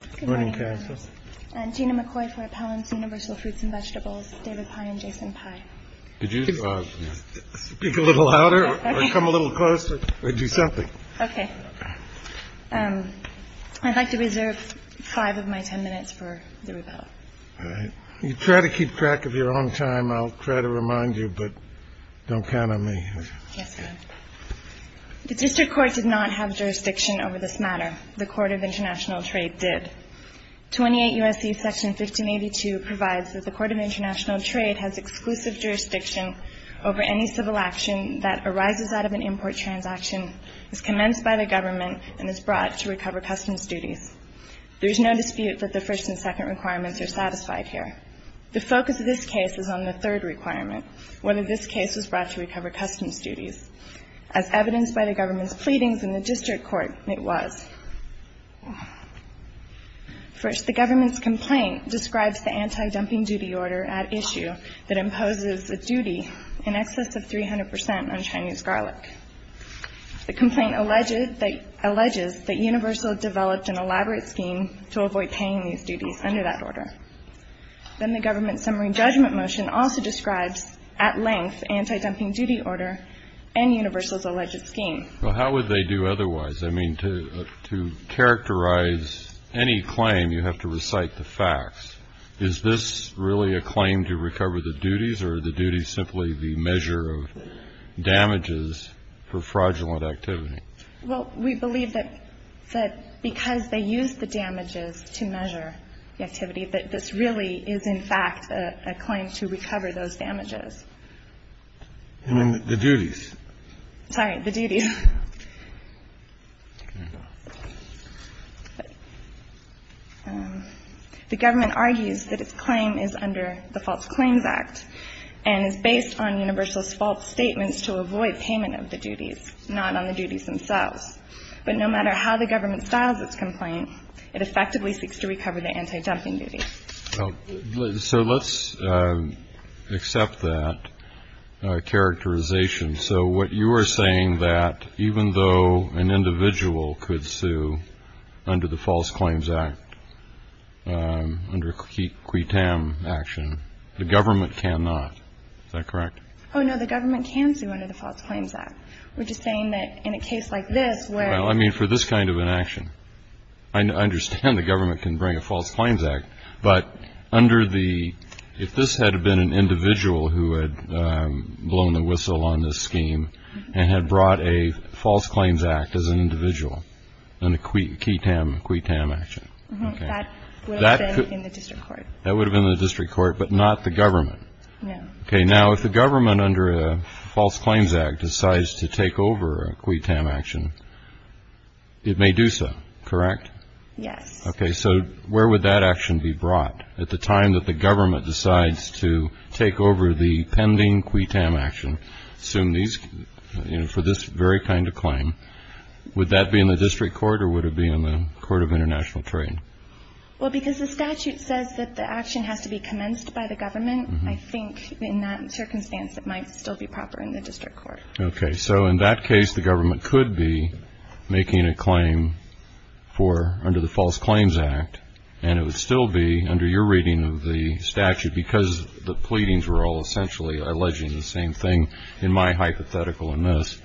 and Vegetables, David Pye and Jason Pye. Could you speak a little louder or come a little closer or do something? Okay. I'd like to reserve five of my ten minutes for the repeal. All right. You try to keep track of your own time. I'll try to remind you, but don't count on me. The District Court did not have jurisdiction over this matter. The Court of International Trade did. 28 U.S.C. Section 1582 provides that the Court of International Trade has exclusive jurisdiction over any civil action that arises out of an import transaction, is commenced by the government, and is brought to recover customs duties. There is no dispute that the first and second requirements are satisfied here. The focus of this case is on the third requirement, whether this case was brought to recover customs duties. As evidenced by the government's pleadings in the District Court, it was. First, the government's complaint describes the anti-dumping duty order at issue that imposes a duty in excess of 300 percent on Chinese garlic. The complaint alleges that Universal developed an elaborate scheme to avoid paying these duties under that order. Then the government's summary judgment motion also describes at length anti-dumping duty order and Universal's alleged scheme. Well, how would they do otherwise? I mean, to characterize any claim, you have to recite the facts. Is this really a claim to recover the duties, or are the duties simply the measure of damages for fraudulent activity? Well, we believe that because they used the damages to measure the activity, that this really is, in fact, a claim to recover those damages. And then the duties. Sorry, the duties. The government argues that its claim is under the False Claims Act and is based on Universal's false statements to avoid payment of the duties, not on the duties themselves. But no matter how the government styles its complaint, it effectively seeks to recover the anti-dumping duty. So let's accept that characterization. So what you are saying, that even though an individual could sue under the False Claims Act, under a qui tam action, the government cannot. Is that correct? Oh, no. The government can sue under the False Claims Act. We're just saying that in a case like this where. Well, I mean, for this kind of an action. I understand the government can bring a False Claims Act. But under the, if this had been an individual who had blown the whistle on this scheme and had brought a False Claims Act as an individual, and a qui tam action. That would have been in the district court. That would have been in the district court, but not the government. No. Okay, now if the government under a False Claims Act decides to take over a qui tam action, it may do so, correct? Yes. Okay, so where would that action be brought at the time that the government decides to take over the pending qui tam action? Assume these, you know, for this very kind of claim. Would that be in the district court or would it be in the court of international trade? Well, because the statute says that the action has to be commenced by the government. I think in that circumstance, it might still be proper in the district court. Okay. So in that case, the government could be making a claim for under the False Claims Act, and it would still be under your reading of the statute because the pleadings were all essentially alleging the same thing in my hypothetical in this.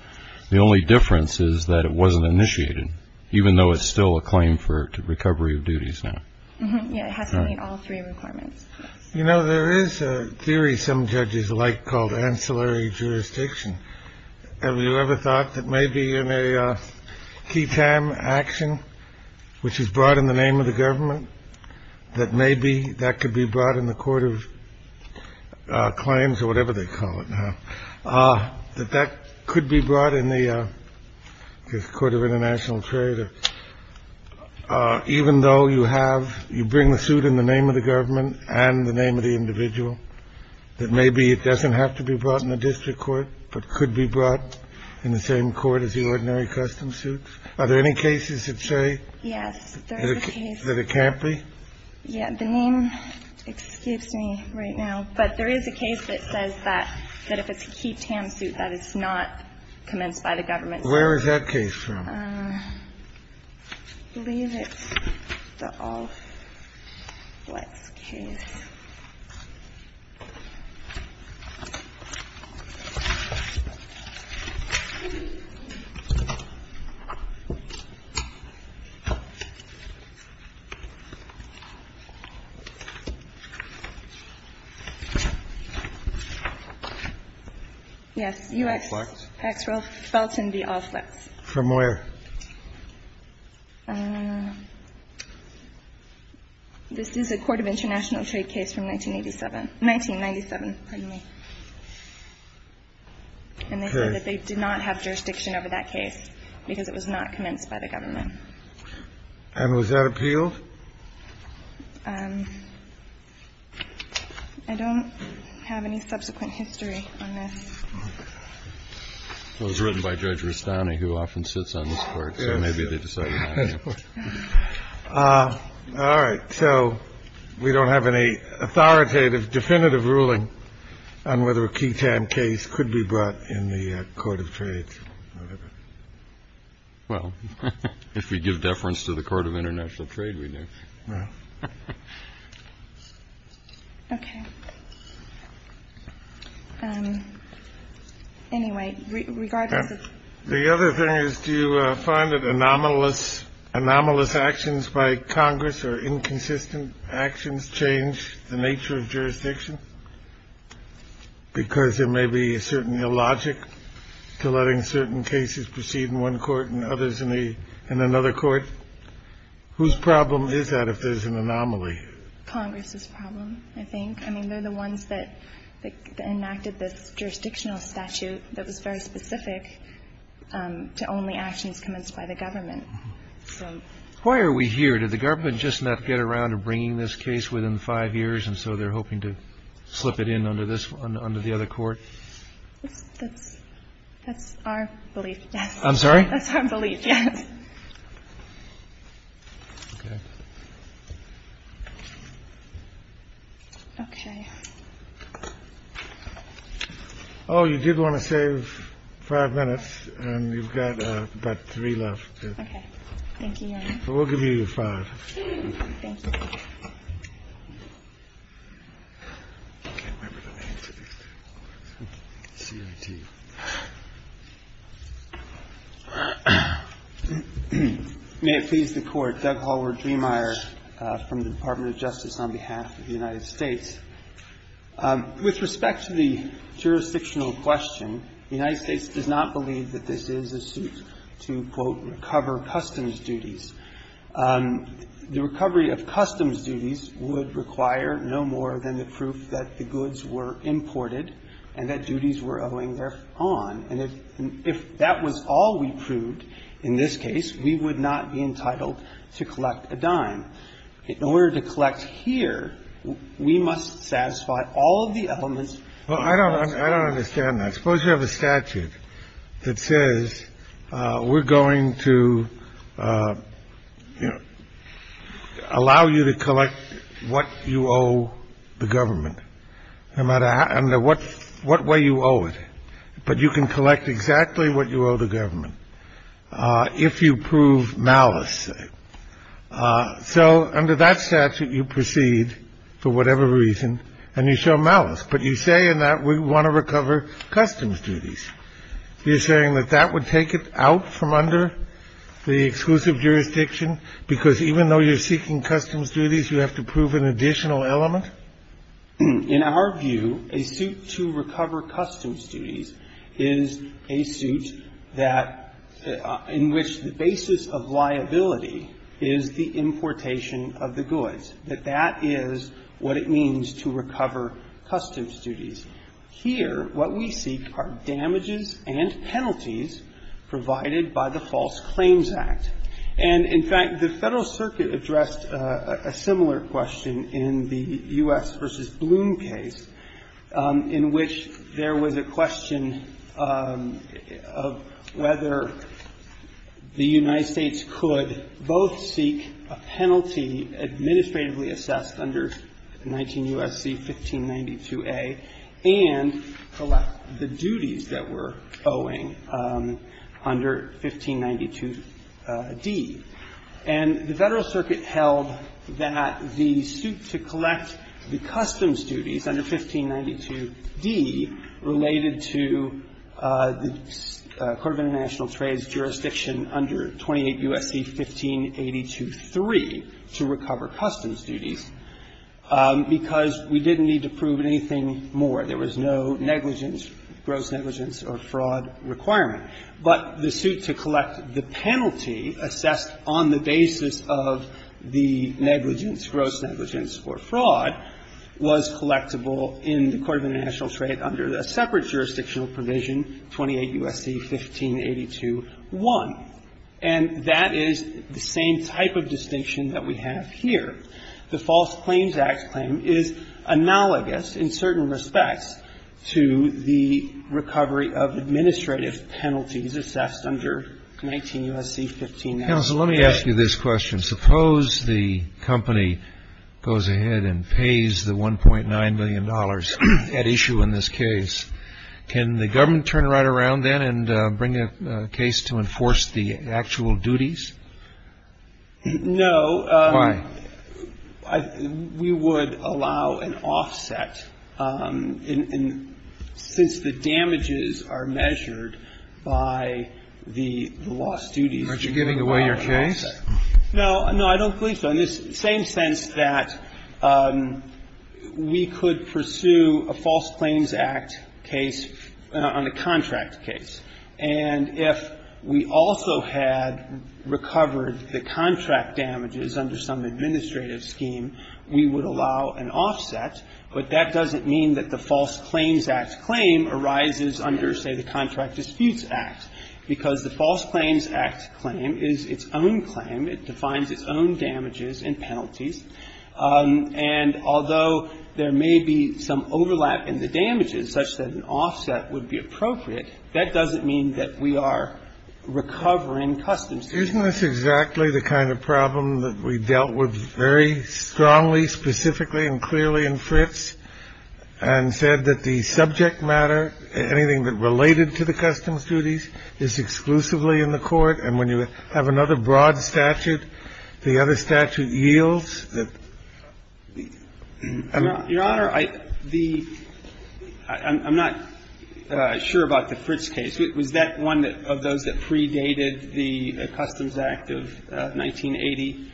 The only difference is that it wasn't initiated, even though it's still a claim for recovery of duties now. Yeah, it has to meet all three requirements. You know, there is a theory some judges like called ancillary jurisdiction. Have you ever thought that maybe in a key time action, which is brought in the name of the government, that maybe that could be brought in the court of claims or whatever they call it now, that that could be brought in the court of international trade. I don't think that's true either. I mean, the question is whether even though you have you bring the suit in the name of the government and the name of the individual, that maybe it doesn't have to be brought in the district court but could be brought in the same court as the ordinary custom suits. By the any cases that say yes that it can't be. Yeah, the name. Excuse me right now. But there is a case that says that that if it's a key tam suit that it's not commenced by the government. Where is that case? I believe it's the Alfletz case. Yes, U.S. Hacksrell Felton v. Alfletz. From where? This is a court of international trade case from 1987, 1997, pardon me. And they said that they did not have jurisdiction over that case because it was not commenced by the government. And was that appealed? I don't have any subsequent history on this. It was written by Judge Rustani who often sits on this court. So maybe they decided not to. All right. So we don't have any authoritative definitive ruling on whether a key tam case could be brought in the court of trade. Well, if we give deference to the court of international trade, we do. OK. Anyway, regardless of the other thing is, do you find that anomalous anomalous actions by Congress or inconsistent actions change the nature of jurisdiction because there may be a certain illogic to letting certain cases proceed in one court and others in the in another court? Whose problem is that if there's an anomaly? Congress's problem, I think. I mean, they're the ones that enacted this jurisdictional statute that was very specific to only actions commenced by the government. Why are we here? Did the government just not get around to bringing this case within five years, and so they're hoping to slip it in under the other court? That's our belief, yes. I'm sorry? That's our belief, yes. OK. Oh, you did want to save five minutes and you've got about three left. OK. Thank you. We'll give you five. Thank you. May it please the Court. Doug Hallward-Driemeier from the Department of Justice on behalf of the United States. With respect to the jurisdictional question, the United States does not believe that this is a suit to, quote, recover customs duties. The recovery of customs duties would require no more than the proof that the goods were imported and that duties were owing their own. And if that was all we proved in this case, we would not be entitled to collect a dime. In order to collect here, we must satisfy all of the elements. Well, I don't understand that. Suppose you have a statute that says we're going to allow you to collect what you owe the government no matter what, what way you owe it. But you can collect exactly what you owe the government if you prove malice. So under that statute, you proceed for whatever reason and you show malice. But you say in that we want to recover customs duties. You're saying that that would take it out from under the exclusive jurisdiction because even though you're seeking customs duties, you have to prove an additional element? In our view, a suit to recover customs duties is a suit that in which the basis of liability is the importation of the goods, that that is what it means to recover customs duties. Here, what we seek are damages and penalties provided by the False Claims Act. And, in fact, the Federal Circuit addressed a similar question in the U.S. v. Bloom case in which there was a question of whether the United States could both seek a penalty assessed under 19 U.S.C. 1592a and collect the duties that we're owing under 1592d. And the Federal Circuit held that the suit to collect the customs duties under 1592d related to the Court of International Trades jurisdiction under 28 U.S.C. 1582-3 to recover customs duties because we didn't need to prove anything more. There was no negligence, gross negligence or fraud requirement. But the suit to collect the penalty assessed on the basis of the negligence, gross negligence or fraud, was collectible in the Court of International Trade under a separate jurisdictional provision, 28 U.S.C. 1582-1. And that is the same type of distinction that we have here. The False Claims Act claim is analogous in certain respects to the recovery of administrative penalties assessed under 19 U.S.C. 1592a. Kennedy. Counsel, let me ask you this question. Suppose the company goes ahead and pays the $1.9 million at issue in this case. Can the government turn it right around then and bring a case to enforce the actual duties? No. Why? We would allow an offset. And since the damages are measured by the lost duties, we would allow an offset. Aren't you giving away your case? No. No, I don't believe so, in the same sense that we could pursue a False Claims Act case on a contract case. And if we also had recovered the contract damages under some administrative scheme, we would allow an offset. But that doesn't mean that the False Claims Act claim arises under, say, the Contract Disputes Act. Because the False Claims Act claim is its own claim. It defines its own damages and penalties. And although there may be some overlap in the damages such that an offset would be appropriate, that doesn't mean that we are recovering customs duties. Isn't this exactly the kind of problem that we dealt with very strongly, specifically and clearly in Fritz and said that the subject matter, anything that related to the other statute, the other statute yields? Your Honor, the – I'm not sure about the Fritz case. Was that one of those that predated the Customs Act of 1980?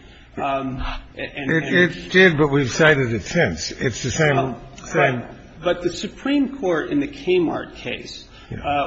It did, but we've cited it since. It's the same thing. But the Supreme Court in the Kmart case,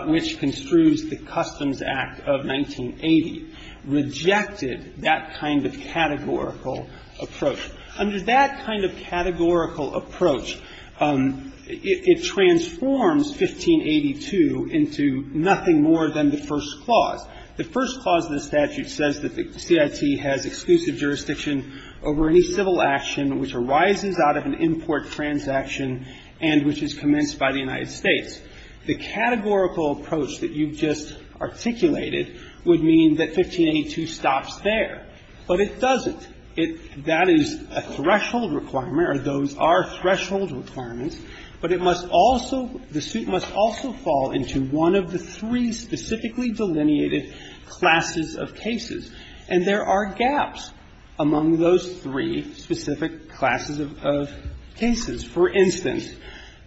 which construes the Customs Act of 1980, rejected that kind of categorical approach. Under that kind of categorical approach, it transforms 1582 into nothing more than the first clause. The first clause of the statute says that the CIT has exclusive jurisdiction over any civil action which arises out of an import transaction and which is commenced by the United States. The categorical approach that you just articulated would mean that 1582 stops there, but it doesn't. It – that is a threshold requirement, or those are threshold requirements, but it must also – the suit must also fall into one of the three specifically delineated classes of cases, and there are gaps among those three specific classes of cases. For instance,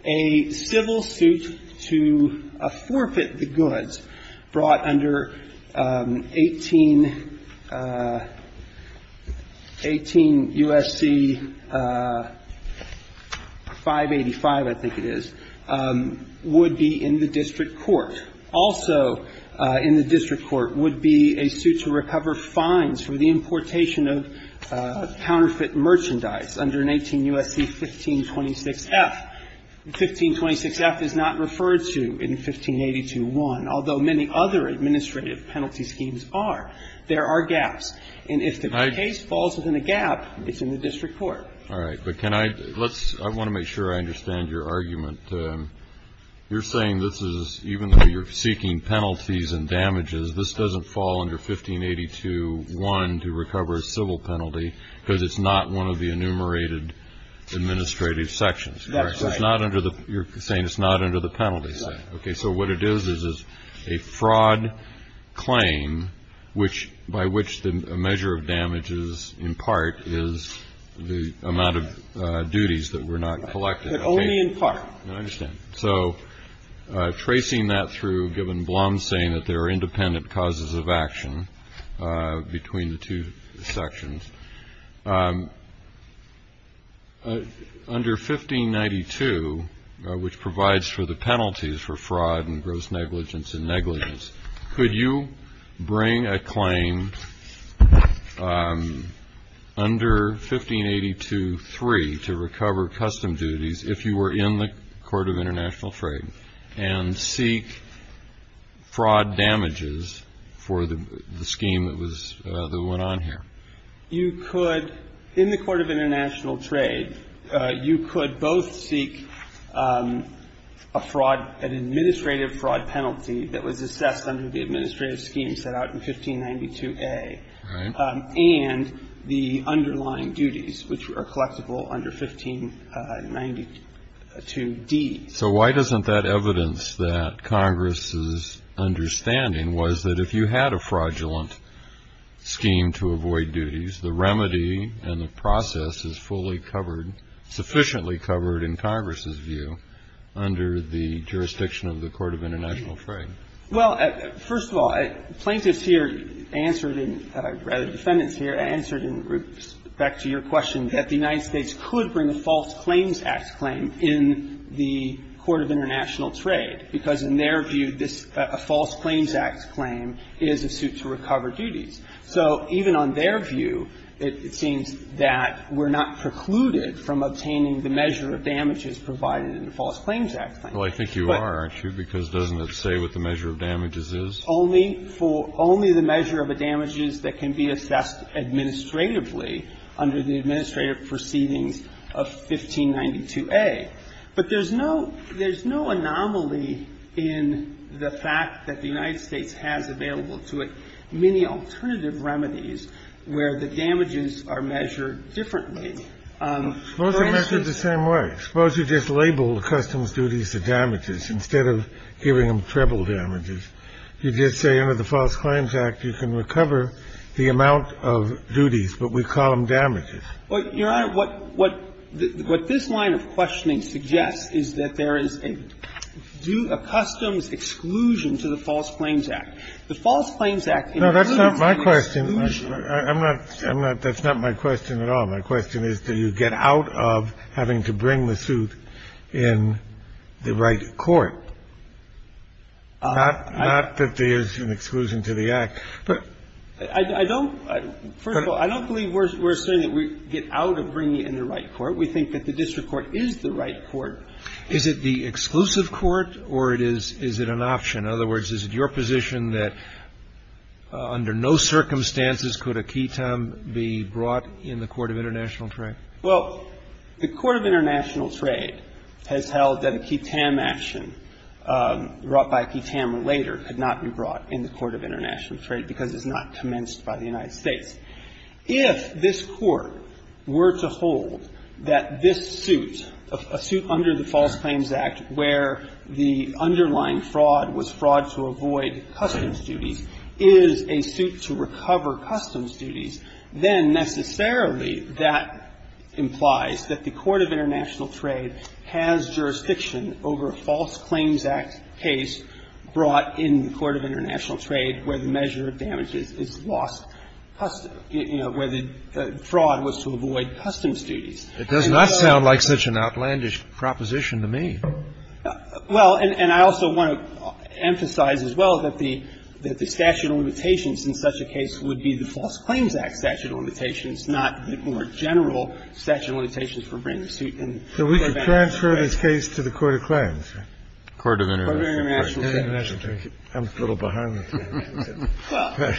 a civil suit to forfeit the goods brought under 18 – 18 U.S.C. 585, I think it is, would be in the district court. Also in the district court would be a suit to recover fines for the importation of counterfeit merchandise under an 18 U.S.C. 1526-F. 1526-F is not referred to in 1582-1, although many other administrative penalty schemes are. There are gaps. And if the case falls within a gap, it's in the district court. All right. But can I – let's – I want to make sure I understand your argument. You're saying this is – even though you're seeking penalties and damages, this doesn't fall under 1582-1 to recover a civil penalty because it's not one of the enumerated administrative sections, correct? That's right. So it's not under the – you're saying it's not under the penalty section. Right. Okay. So what it is is a fraud claim, which – by which a measure of damages in part is the amount of duties that were not collected. But only in part. I understand. Okay. So tracing that through, given Blum saying that there are independent causes of action between the two sections, under 1592, which provides for the penalties for fraud and gross negligence and negligence, could you bring a claim under 1582-3 to recover custom duties if you were in the court of international trade and seek fraud damages for the scheme that was – that went on here? You could – in the court of international trade, you could both seek a fraud – an administrative fraud penalty that was assessed under the administrative scheme set out in 1592A. Right. And the underlying duties, which are collectible under 1592D. So why doesn't that evidence that Congress's understanding was that if you had a fraudulent scheme to avoid duties, the remedy and the process is fully covered – sufficiently covered in Congress's view under the jurisdiction of the court of international trade? Well, first of all, plaintiffs here answered in – rather, defendants here answered in respect to your question that the United States could bring a False Claims Act claim in the court of international trade, because in their view, this – a False Claims Act claim is a suit to recover duties. So even on their view, it seems that we're not precluded from obtaining the measure of damages provided in the False Claims Act claim. Well, I think you are, aren't you, because doesn't it say what the measure of damages is? Only for – only the measure of the damages that can be assessed administratively under the administrative proceedings of 1592A. But there's no – there's no anomaly in the fact that the United States has available to it many alternative remedies where the damages are measured differently. Suppose they measure it the same way. Suppose you just label the customs duties as damages instead of giving them treble damages. You just say under the False Claims Act, you can recover the amount of duties, but we call them damages. Well, Your Honor, what this line of questioning suggests is that there is a due – a customs exclusion to the False Claims Act. The False Claims Act includes an exclusion. No, that's not my question. I'm not – I'm not – that's not my question at all. My question is, do you get out of having to bring the suit in the right court? Not that there's an exclusion to the Act, but – I don't – first of all, I don't believe we're saying that we get out of bringing it in the right court. We think that the district court is the right court. Is it the exclusive court, or it is – is it an option? In other words, is it your position that under no circumstances could a key time be brought in the court of international trade? Well, the court of international trade has held that a key time action brought by a key time later could not be brought in the court of international trade because it's not commenced by the United States. If this Court were to hold that this suit, a suit under the False Claims Act where the underlying fraud was fraud to avoid customs duties, is a suit to recover customs duties, then necessarily that implies that the court of international trade has jurisdiction over a False Claims Act case brought in the court of international trade where the measure of damage is lost, you know, where the fraud was to avoid customs duties. It does not sound like such an outlandish proposition to me. Well, and I also want to emphasize as well that the statute of limitations in such a case would be the False Claims Act statute of limitations, not the more general statute of limitations for bringing a suit in the court of international trade. So we could transfer this case to the court of claims? Court of international trade. I'm a little behind with you. Well,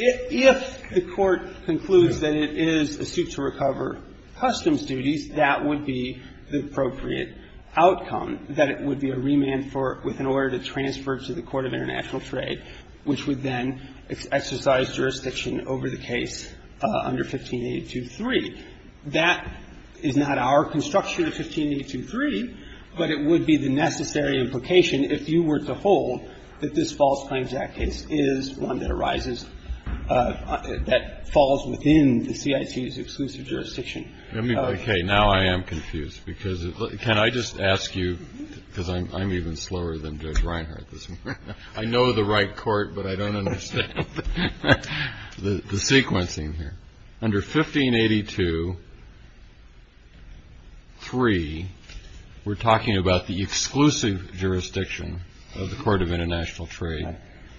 if the Court concludes that it is a suit to recover customs duties, that would be the appropriate outcome, that it would be a remand for – with an order to transfer it to the court of international trade, which would then exercise jurisdiction over the case under 1582.3. That is not our construction of 1582.3, but it would be the necessary implication if you were to hold that this False Claims Act case is one that arises – that falls within the CIT's exclusive jurisdiction. Let me – okay. Now I am confused, because – can I just ask you, because I'm even slower than Judge Reinhart this morning. I know the right court, but I don't understand the sequencing here. Under 1582.3, we're talking about the exclusive jurisdiction of the court of international trade,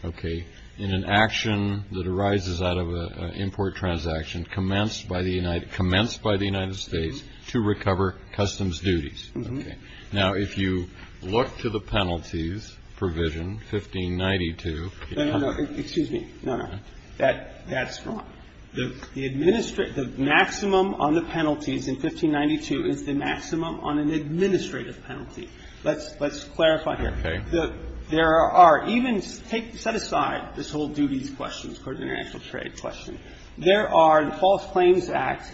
okay, in an action that arises out of an import transaction commenced by the United States to recover customs duties. Okay. Now, if you look to the penalties provision, 1592. No, no, no. Excuse me. No, no. That's wrong. The administrate – the maximum on the penalties in 1592 is the maximum on an administrative penalty. Let's clarify here. Okay. There are even – set aside this whole duties question, court of international trade question. There are – the False Claims Act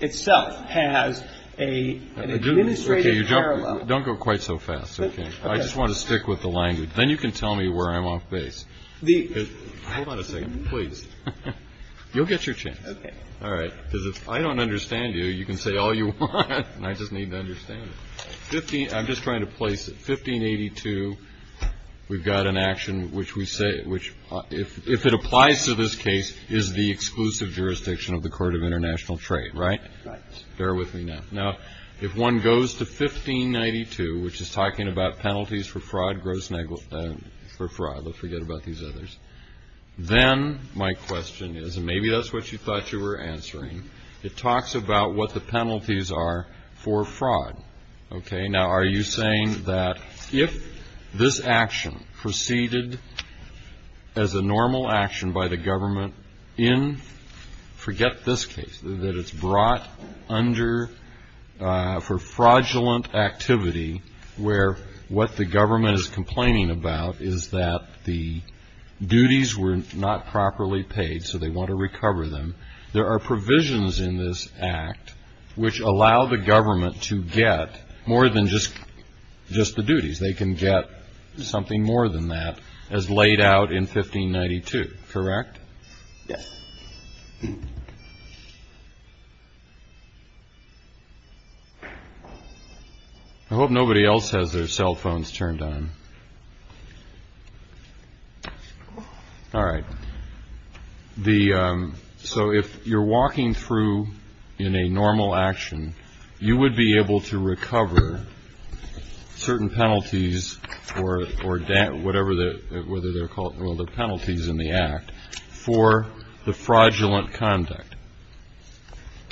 itself has an administrative parallel. Okay. Don't go quite so fast, okay? Okay. I just want to stick with the language. Then you can tell me where I'm off base. The – Hold on a second, please. You'll get your chance. Okay. All right. Because if I don't understand you, you can say all you want, and I just need to understand it. Fifteen – I'm just trying to place it. we've got an action which we say – which, if it applies to this case, is the exclusive jurisdiction of the court of international trade, right? Right. Bear with me now. Now, if one goes to 1592, which is talking about penalties for fraud, gross negligence – for fraud. Let's forget about these others. Then my question is – and maybe that's what you thought you were answering. It talks about what the penalties are for fraud. Okay. Now, are you saying that if this action proceeded as a normal action by the government in – forget this case, that it's brought under for fraudulent activity, where what the government is complaining about is that the duties were not properly paid, so they want to recover them. There are provisions in this act which allow the government to get more than just the duties. They can get something more than that, as laid out in 1592. Correct? Yes. I hope nobody else has their cell phones turned on. All right. So, if you're walking through in a normal action, you would be able to recover certain penalties or whatever they're called – well, the penalties in the act for the fraudulent conduct.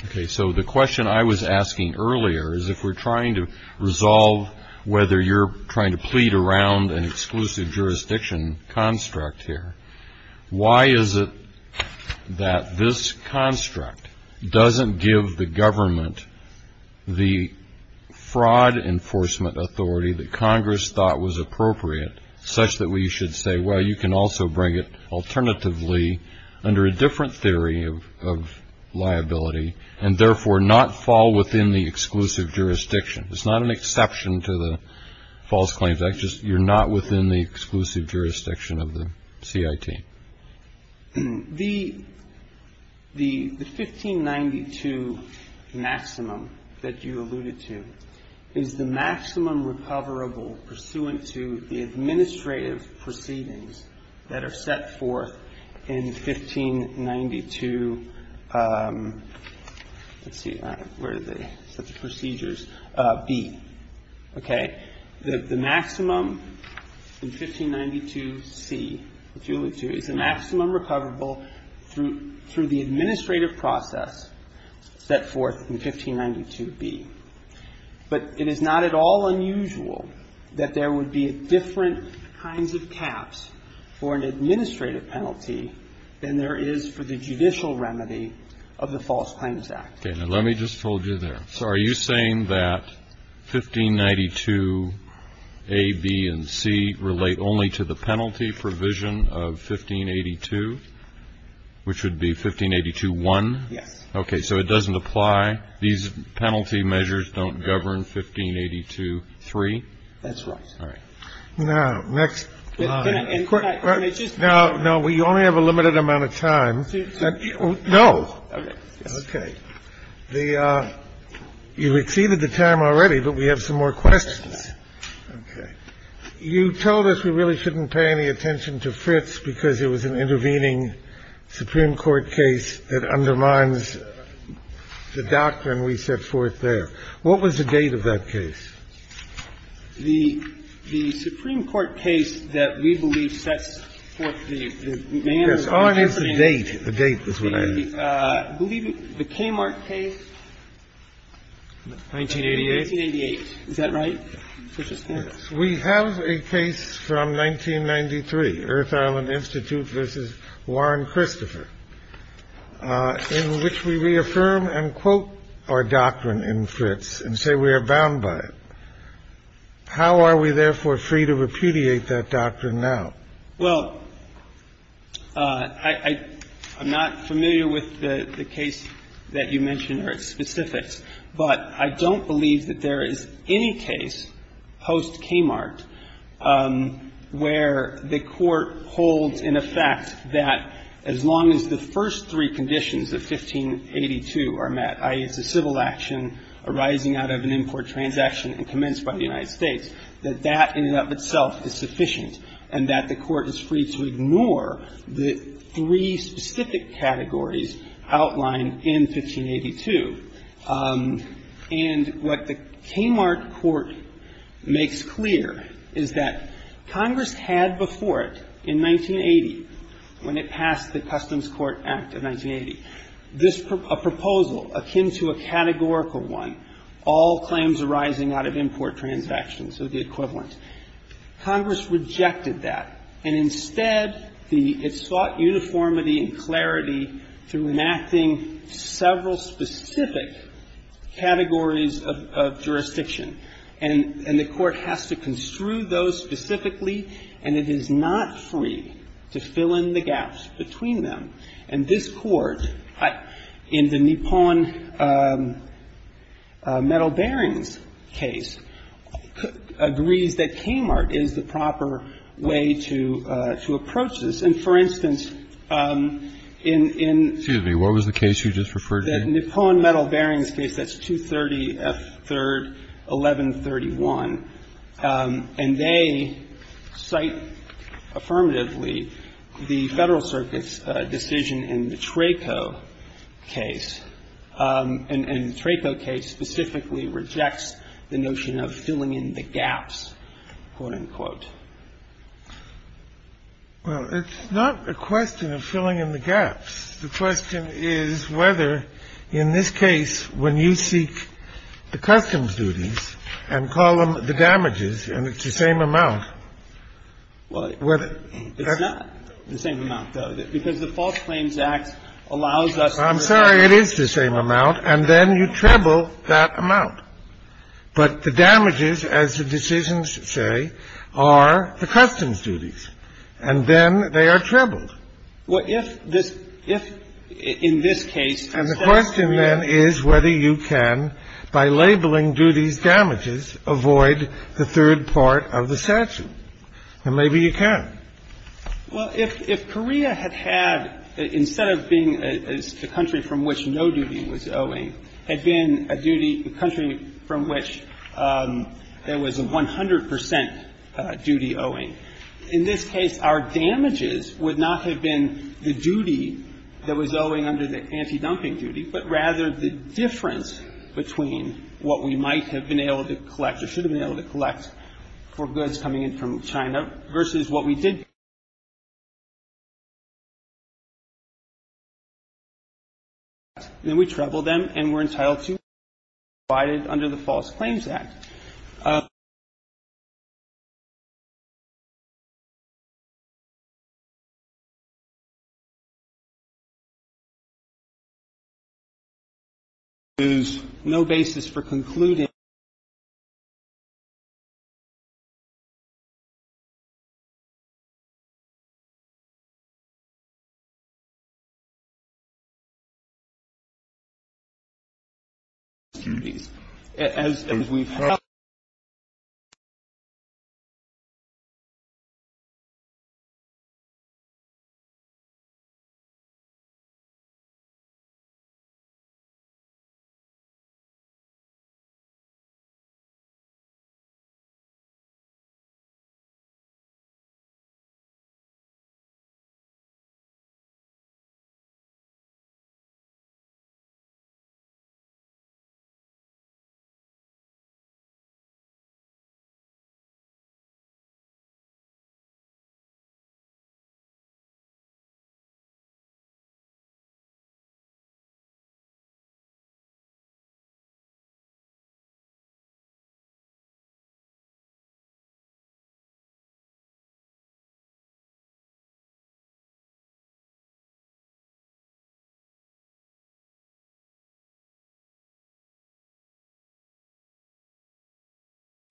Okay. So, the question I was asking earlier is if we're trying to resolve whether you're trying to plead around an exclusive jurisdiction construct here, why is it that this construct doesn't give the government the fraud enforcement authority that Congress thought was appropriate, such that we should say, well, you can also bring it alternatively under a different theory of liability, and therefore not fall within the exclusive jurisdiction? It's not an exception to the False Claims Act. You're not within the exclusive jurisdiction of the CIT. The 1592 maximum that you alluded to is the maximum recoverable pursuant to the administrative process set forth in 1592B. But it is not at all unusual that there would be different kinds of caps for an administrative penalty than there is for the judicial remedy of the False Claims Act. Okay. Now, let me just hold you there. So, are you saying that 1592A, B, and C relate only to the penalty provision of 1582, which would be 1582.1? Yes. Okay. So, it doesn't apply? These penalty measures don't govern 1582.3? That's right. All right. Now, next slide. Can I just – Now, we only have a limited amount of time. No. Okay. Okay. The – you've exceeded the time already, but we have some more questions. Okay. You told us we really shouldn't pay any attention to Fritz because it was an intervening Supreme Court case that undermines the doctrine we set forth there. What was the date of that case? The date. The date is what I asked. I believe the Kmart case. 1988? 1988. Is that right? Yes. We have a case from 1993, Earth Island Institute v. Warren Christopher, in which we reaffirm and quote our doctrine in Fritz and say we are bound by it. How are we, therefore, free to repudiate that doctrine now? Well, I'm not familiar with the case that you mentioned or its specifics, but I don't believe that there is any case post-Kmart where the Court holds in effect that as long as the first three conditions of 1582 are met, i.e., it's a civil action arising out of an import transaction and commenced by the United States, that that in and of itself is sufficient and that the Court is free to ignore the three specific categories outlined in 1582. And what the Kmart Court makes clear is that Congress had before it, in 1980, when it passed the Customs Court Act of 1980, a proposal akin to a categorical one, all claims arising out of import transactions of the equivalent, Congress rejected that, and instead it sought uniformity and clarity through enacting several specific categories of jurisdiction. And the Court has to construe those specifically, and it is not free to fill in the gaps between them, and this Court, in the Nippon Metal Bearings case, agrees that Kmart is the proper way to approach this. And, for instance, in the Nippon Metal Bearings case, that's 230 F. 3rd, 11th, 31, and they cite affirmatively the Federal Circuit's decision in the Traco case, and the Traco case specifically rejects the notion of filling in the gaps, quote, unquote. Well, it's not a question of filling in the gaps. The question is whether, in this case, when you seek the customs duties and call them the damages, and it's the same amount, whether that's... Well, it's not the same amount, though, because the False Claims Act allows us to... I'm sorry, it is the same amount, and then you treble that amount. But the damages, as the decisions say, are the customs duties, and then they are trebled. Well, if this – if in this case... And the question, then, is whether you can, by labeling duties damages, avoid the third part of the statute. And maybe you can. Well, if Korea had had, instead of being a country from which no duty was owing, had been a duty – a country from which there was a 100 percent duty owing, in this case, our damages would not have been the duty that was owing under the anti-dumping duty, but rather the difference between what we might have been able to collect or should have been able to collect for goods coming in from China versus what we did... And then we treble them, and we're entitled to... under the False Claims Act. I'm sorry. There is no basis for concluding... As we've heard...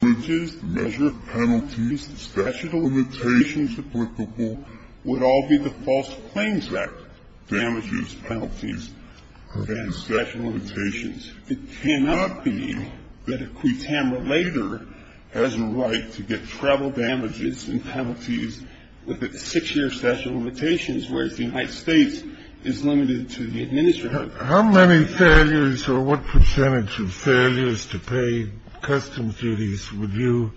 Okay. Okay. How many failures or what percentage of failures to pay custom duties would you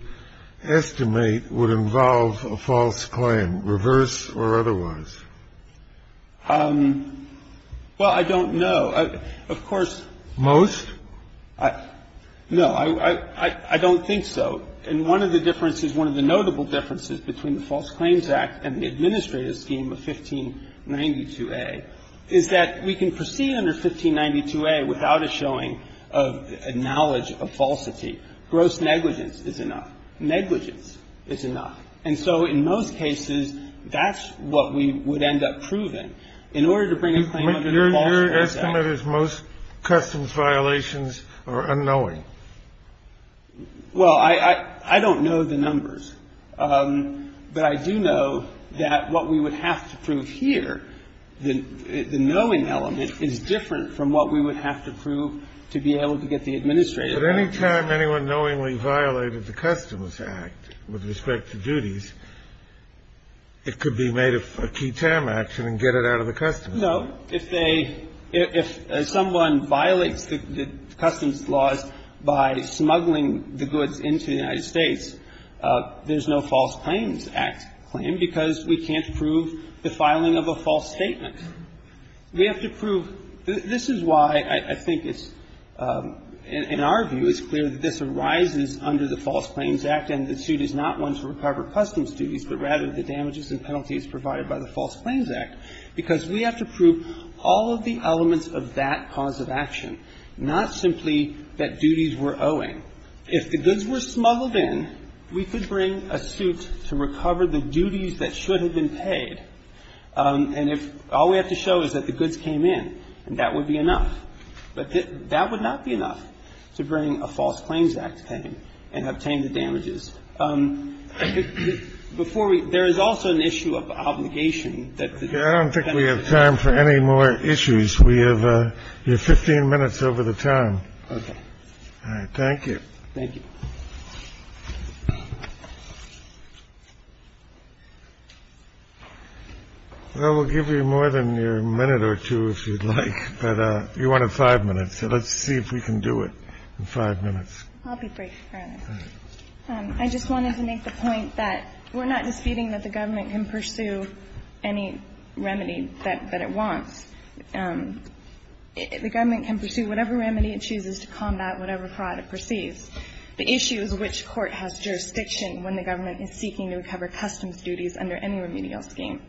estimate would involve a false claim, reverse or otherwise? Well, I don't know. Of course. Most? No. I don't think so. And one of the differences, one of the notable differences between the False Claims Act and the administrative scheme of 1592A is that we can proceed under 1592A without a showing of a knowledge of falsity. Gross negligence is enough. Negligence is enough. And so in most cases, that's what we would end up proving. In order to bring a claim under the False Claims Act. Your estimate is most customs violations are unknowing. Well, I don't know the numbers. But I do know that what we would have to prove here, the knowing element, is different from what we would have to prove to be able to get the administrative element. But any time anyone knowingly violated the Customs Act with respect to duties, it could be made a key term action and get it out of the customs. No. If they – if someone violates the customs laws by smuggling the goods into the United States, there's no False Claims Act claim because we can't prove the filing of a false statement. We have to prove – this is why I think it's – in our view, it's clear that this arises under the False Claims Act, and the suit is not one to recover customs duties, but rather the damages and penalties provided by the False Claims Act, because we have to prove all of the elements of that cause of action, not simply that duties were owing. If the goods were smuggled in, we could bring a suit to recover the duties that should have been paid. And if – all we have to show is that the goods came in, and that would be enough. But that would not be enough to bring a False Claims Act claim and obtain the damages. Before we – there is also an issue of obligation that the – I don't think we have time for any more issues. We have 15 minutes over the time. Okay. All right. Thank you. Well, we'll give you more than your minute or two, if you'd like. But you wanted five minutes, so let's see if we can do it in five minutes. I'll be brief, Your Honor. All right. I just wanted to make the point that we're not disputing that the government can pursue any remedy that it wants. The government can pursue whatever remedy it chooses to combat whatever fraud it perceives. The issue is which court has jurisdiction when the government is seeking to recover customs duties under any remedial scheme.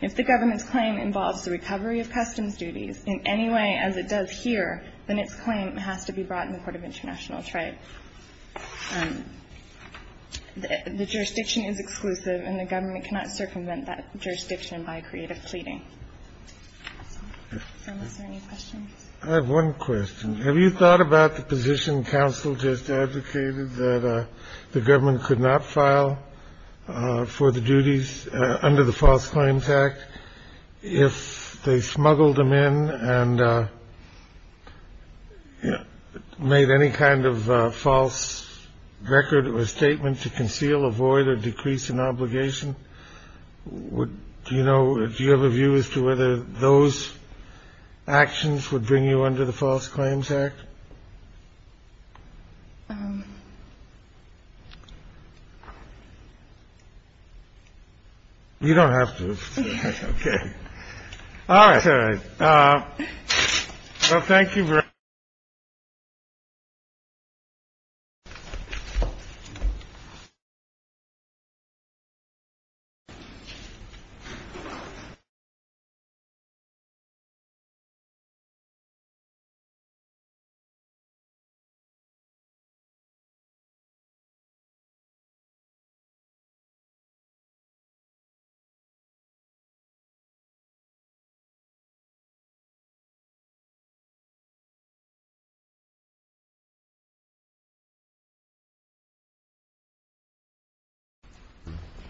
If the government's claim involves the recovery of customs duties in any way as it does here, then its claim has to be brought in the court of international trade. The jurisdiction is exclusive, and the government cannot circumvent that jurisdiction by creative pleading. Is there any questions? I have one question. Have you thought about the position counsel just advocated that the government could not file for the duties under the False Claims Act if they smuggled them in and made any kind of false record or statement to conceal, avoid or decrease an obligation? Would you know if you have a view as to whether those actions would bring you under the False Claims Act? You don't have to. All right. Well, thank you. Thank you.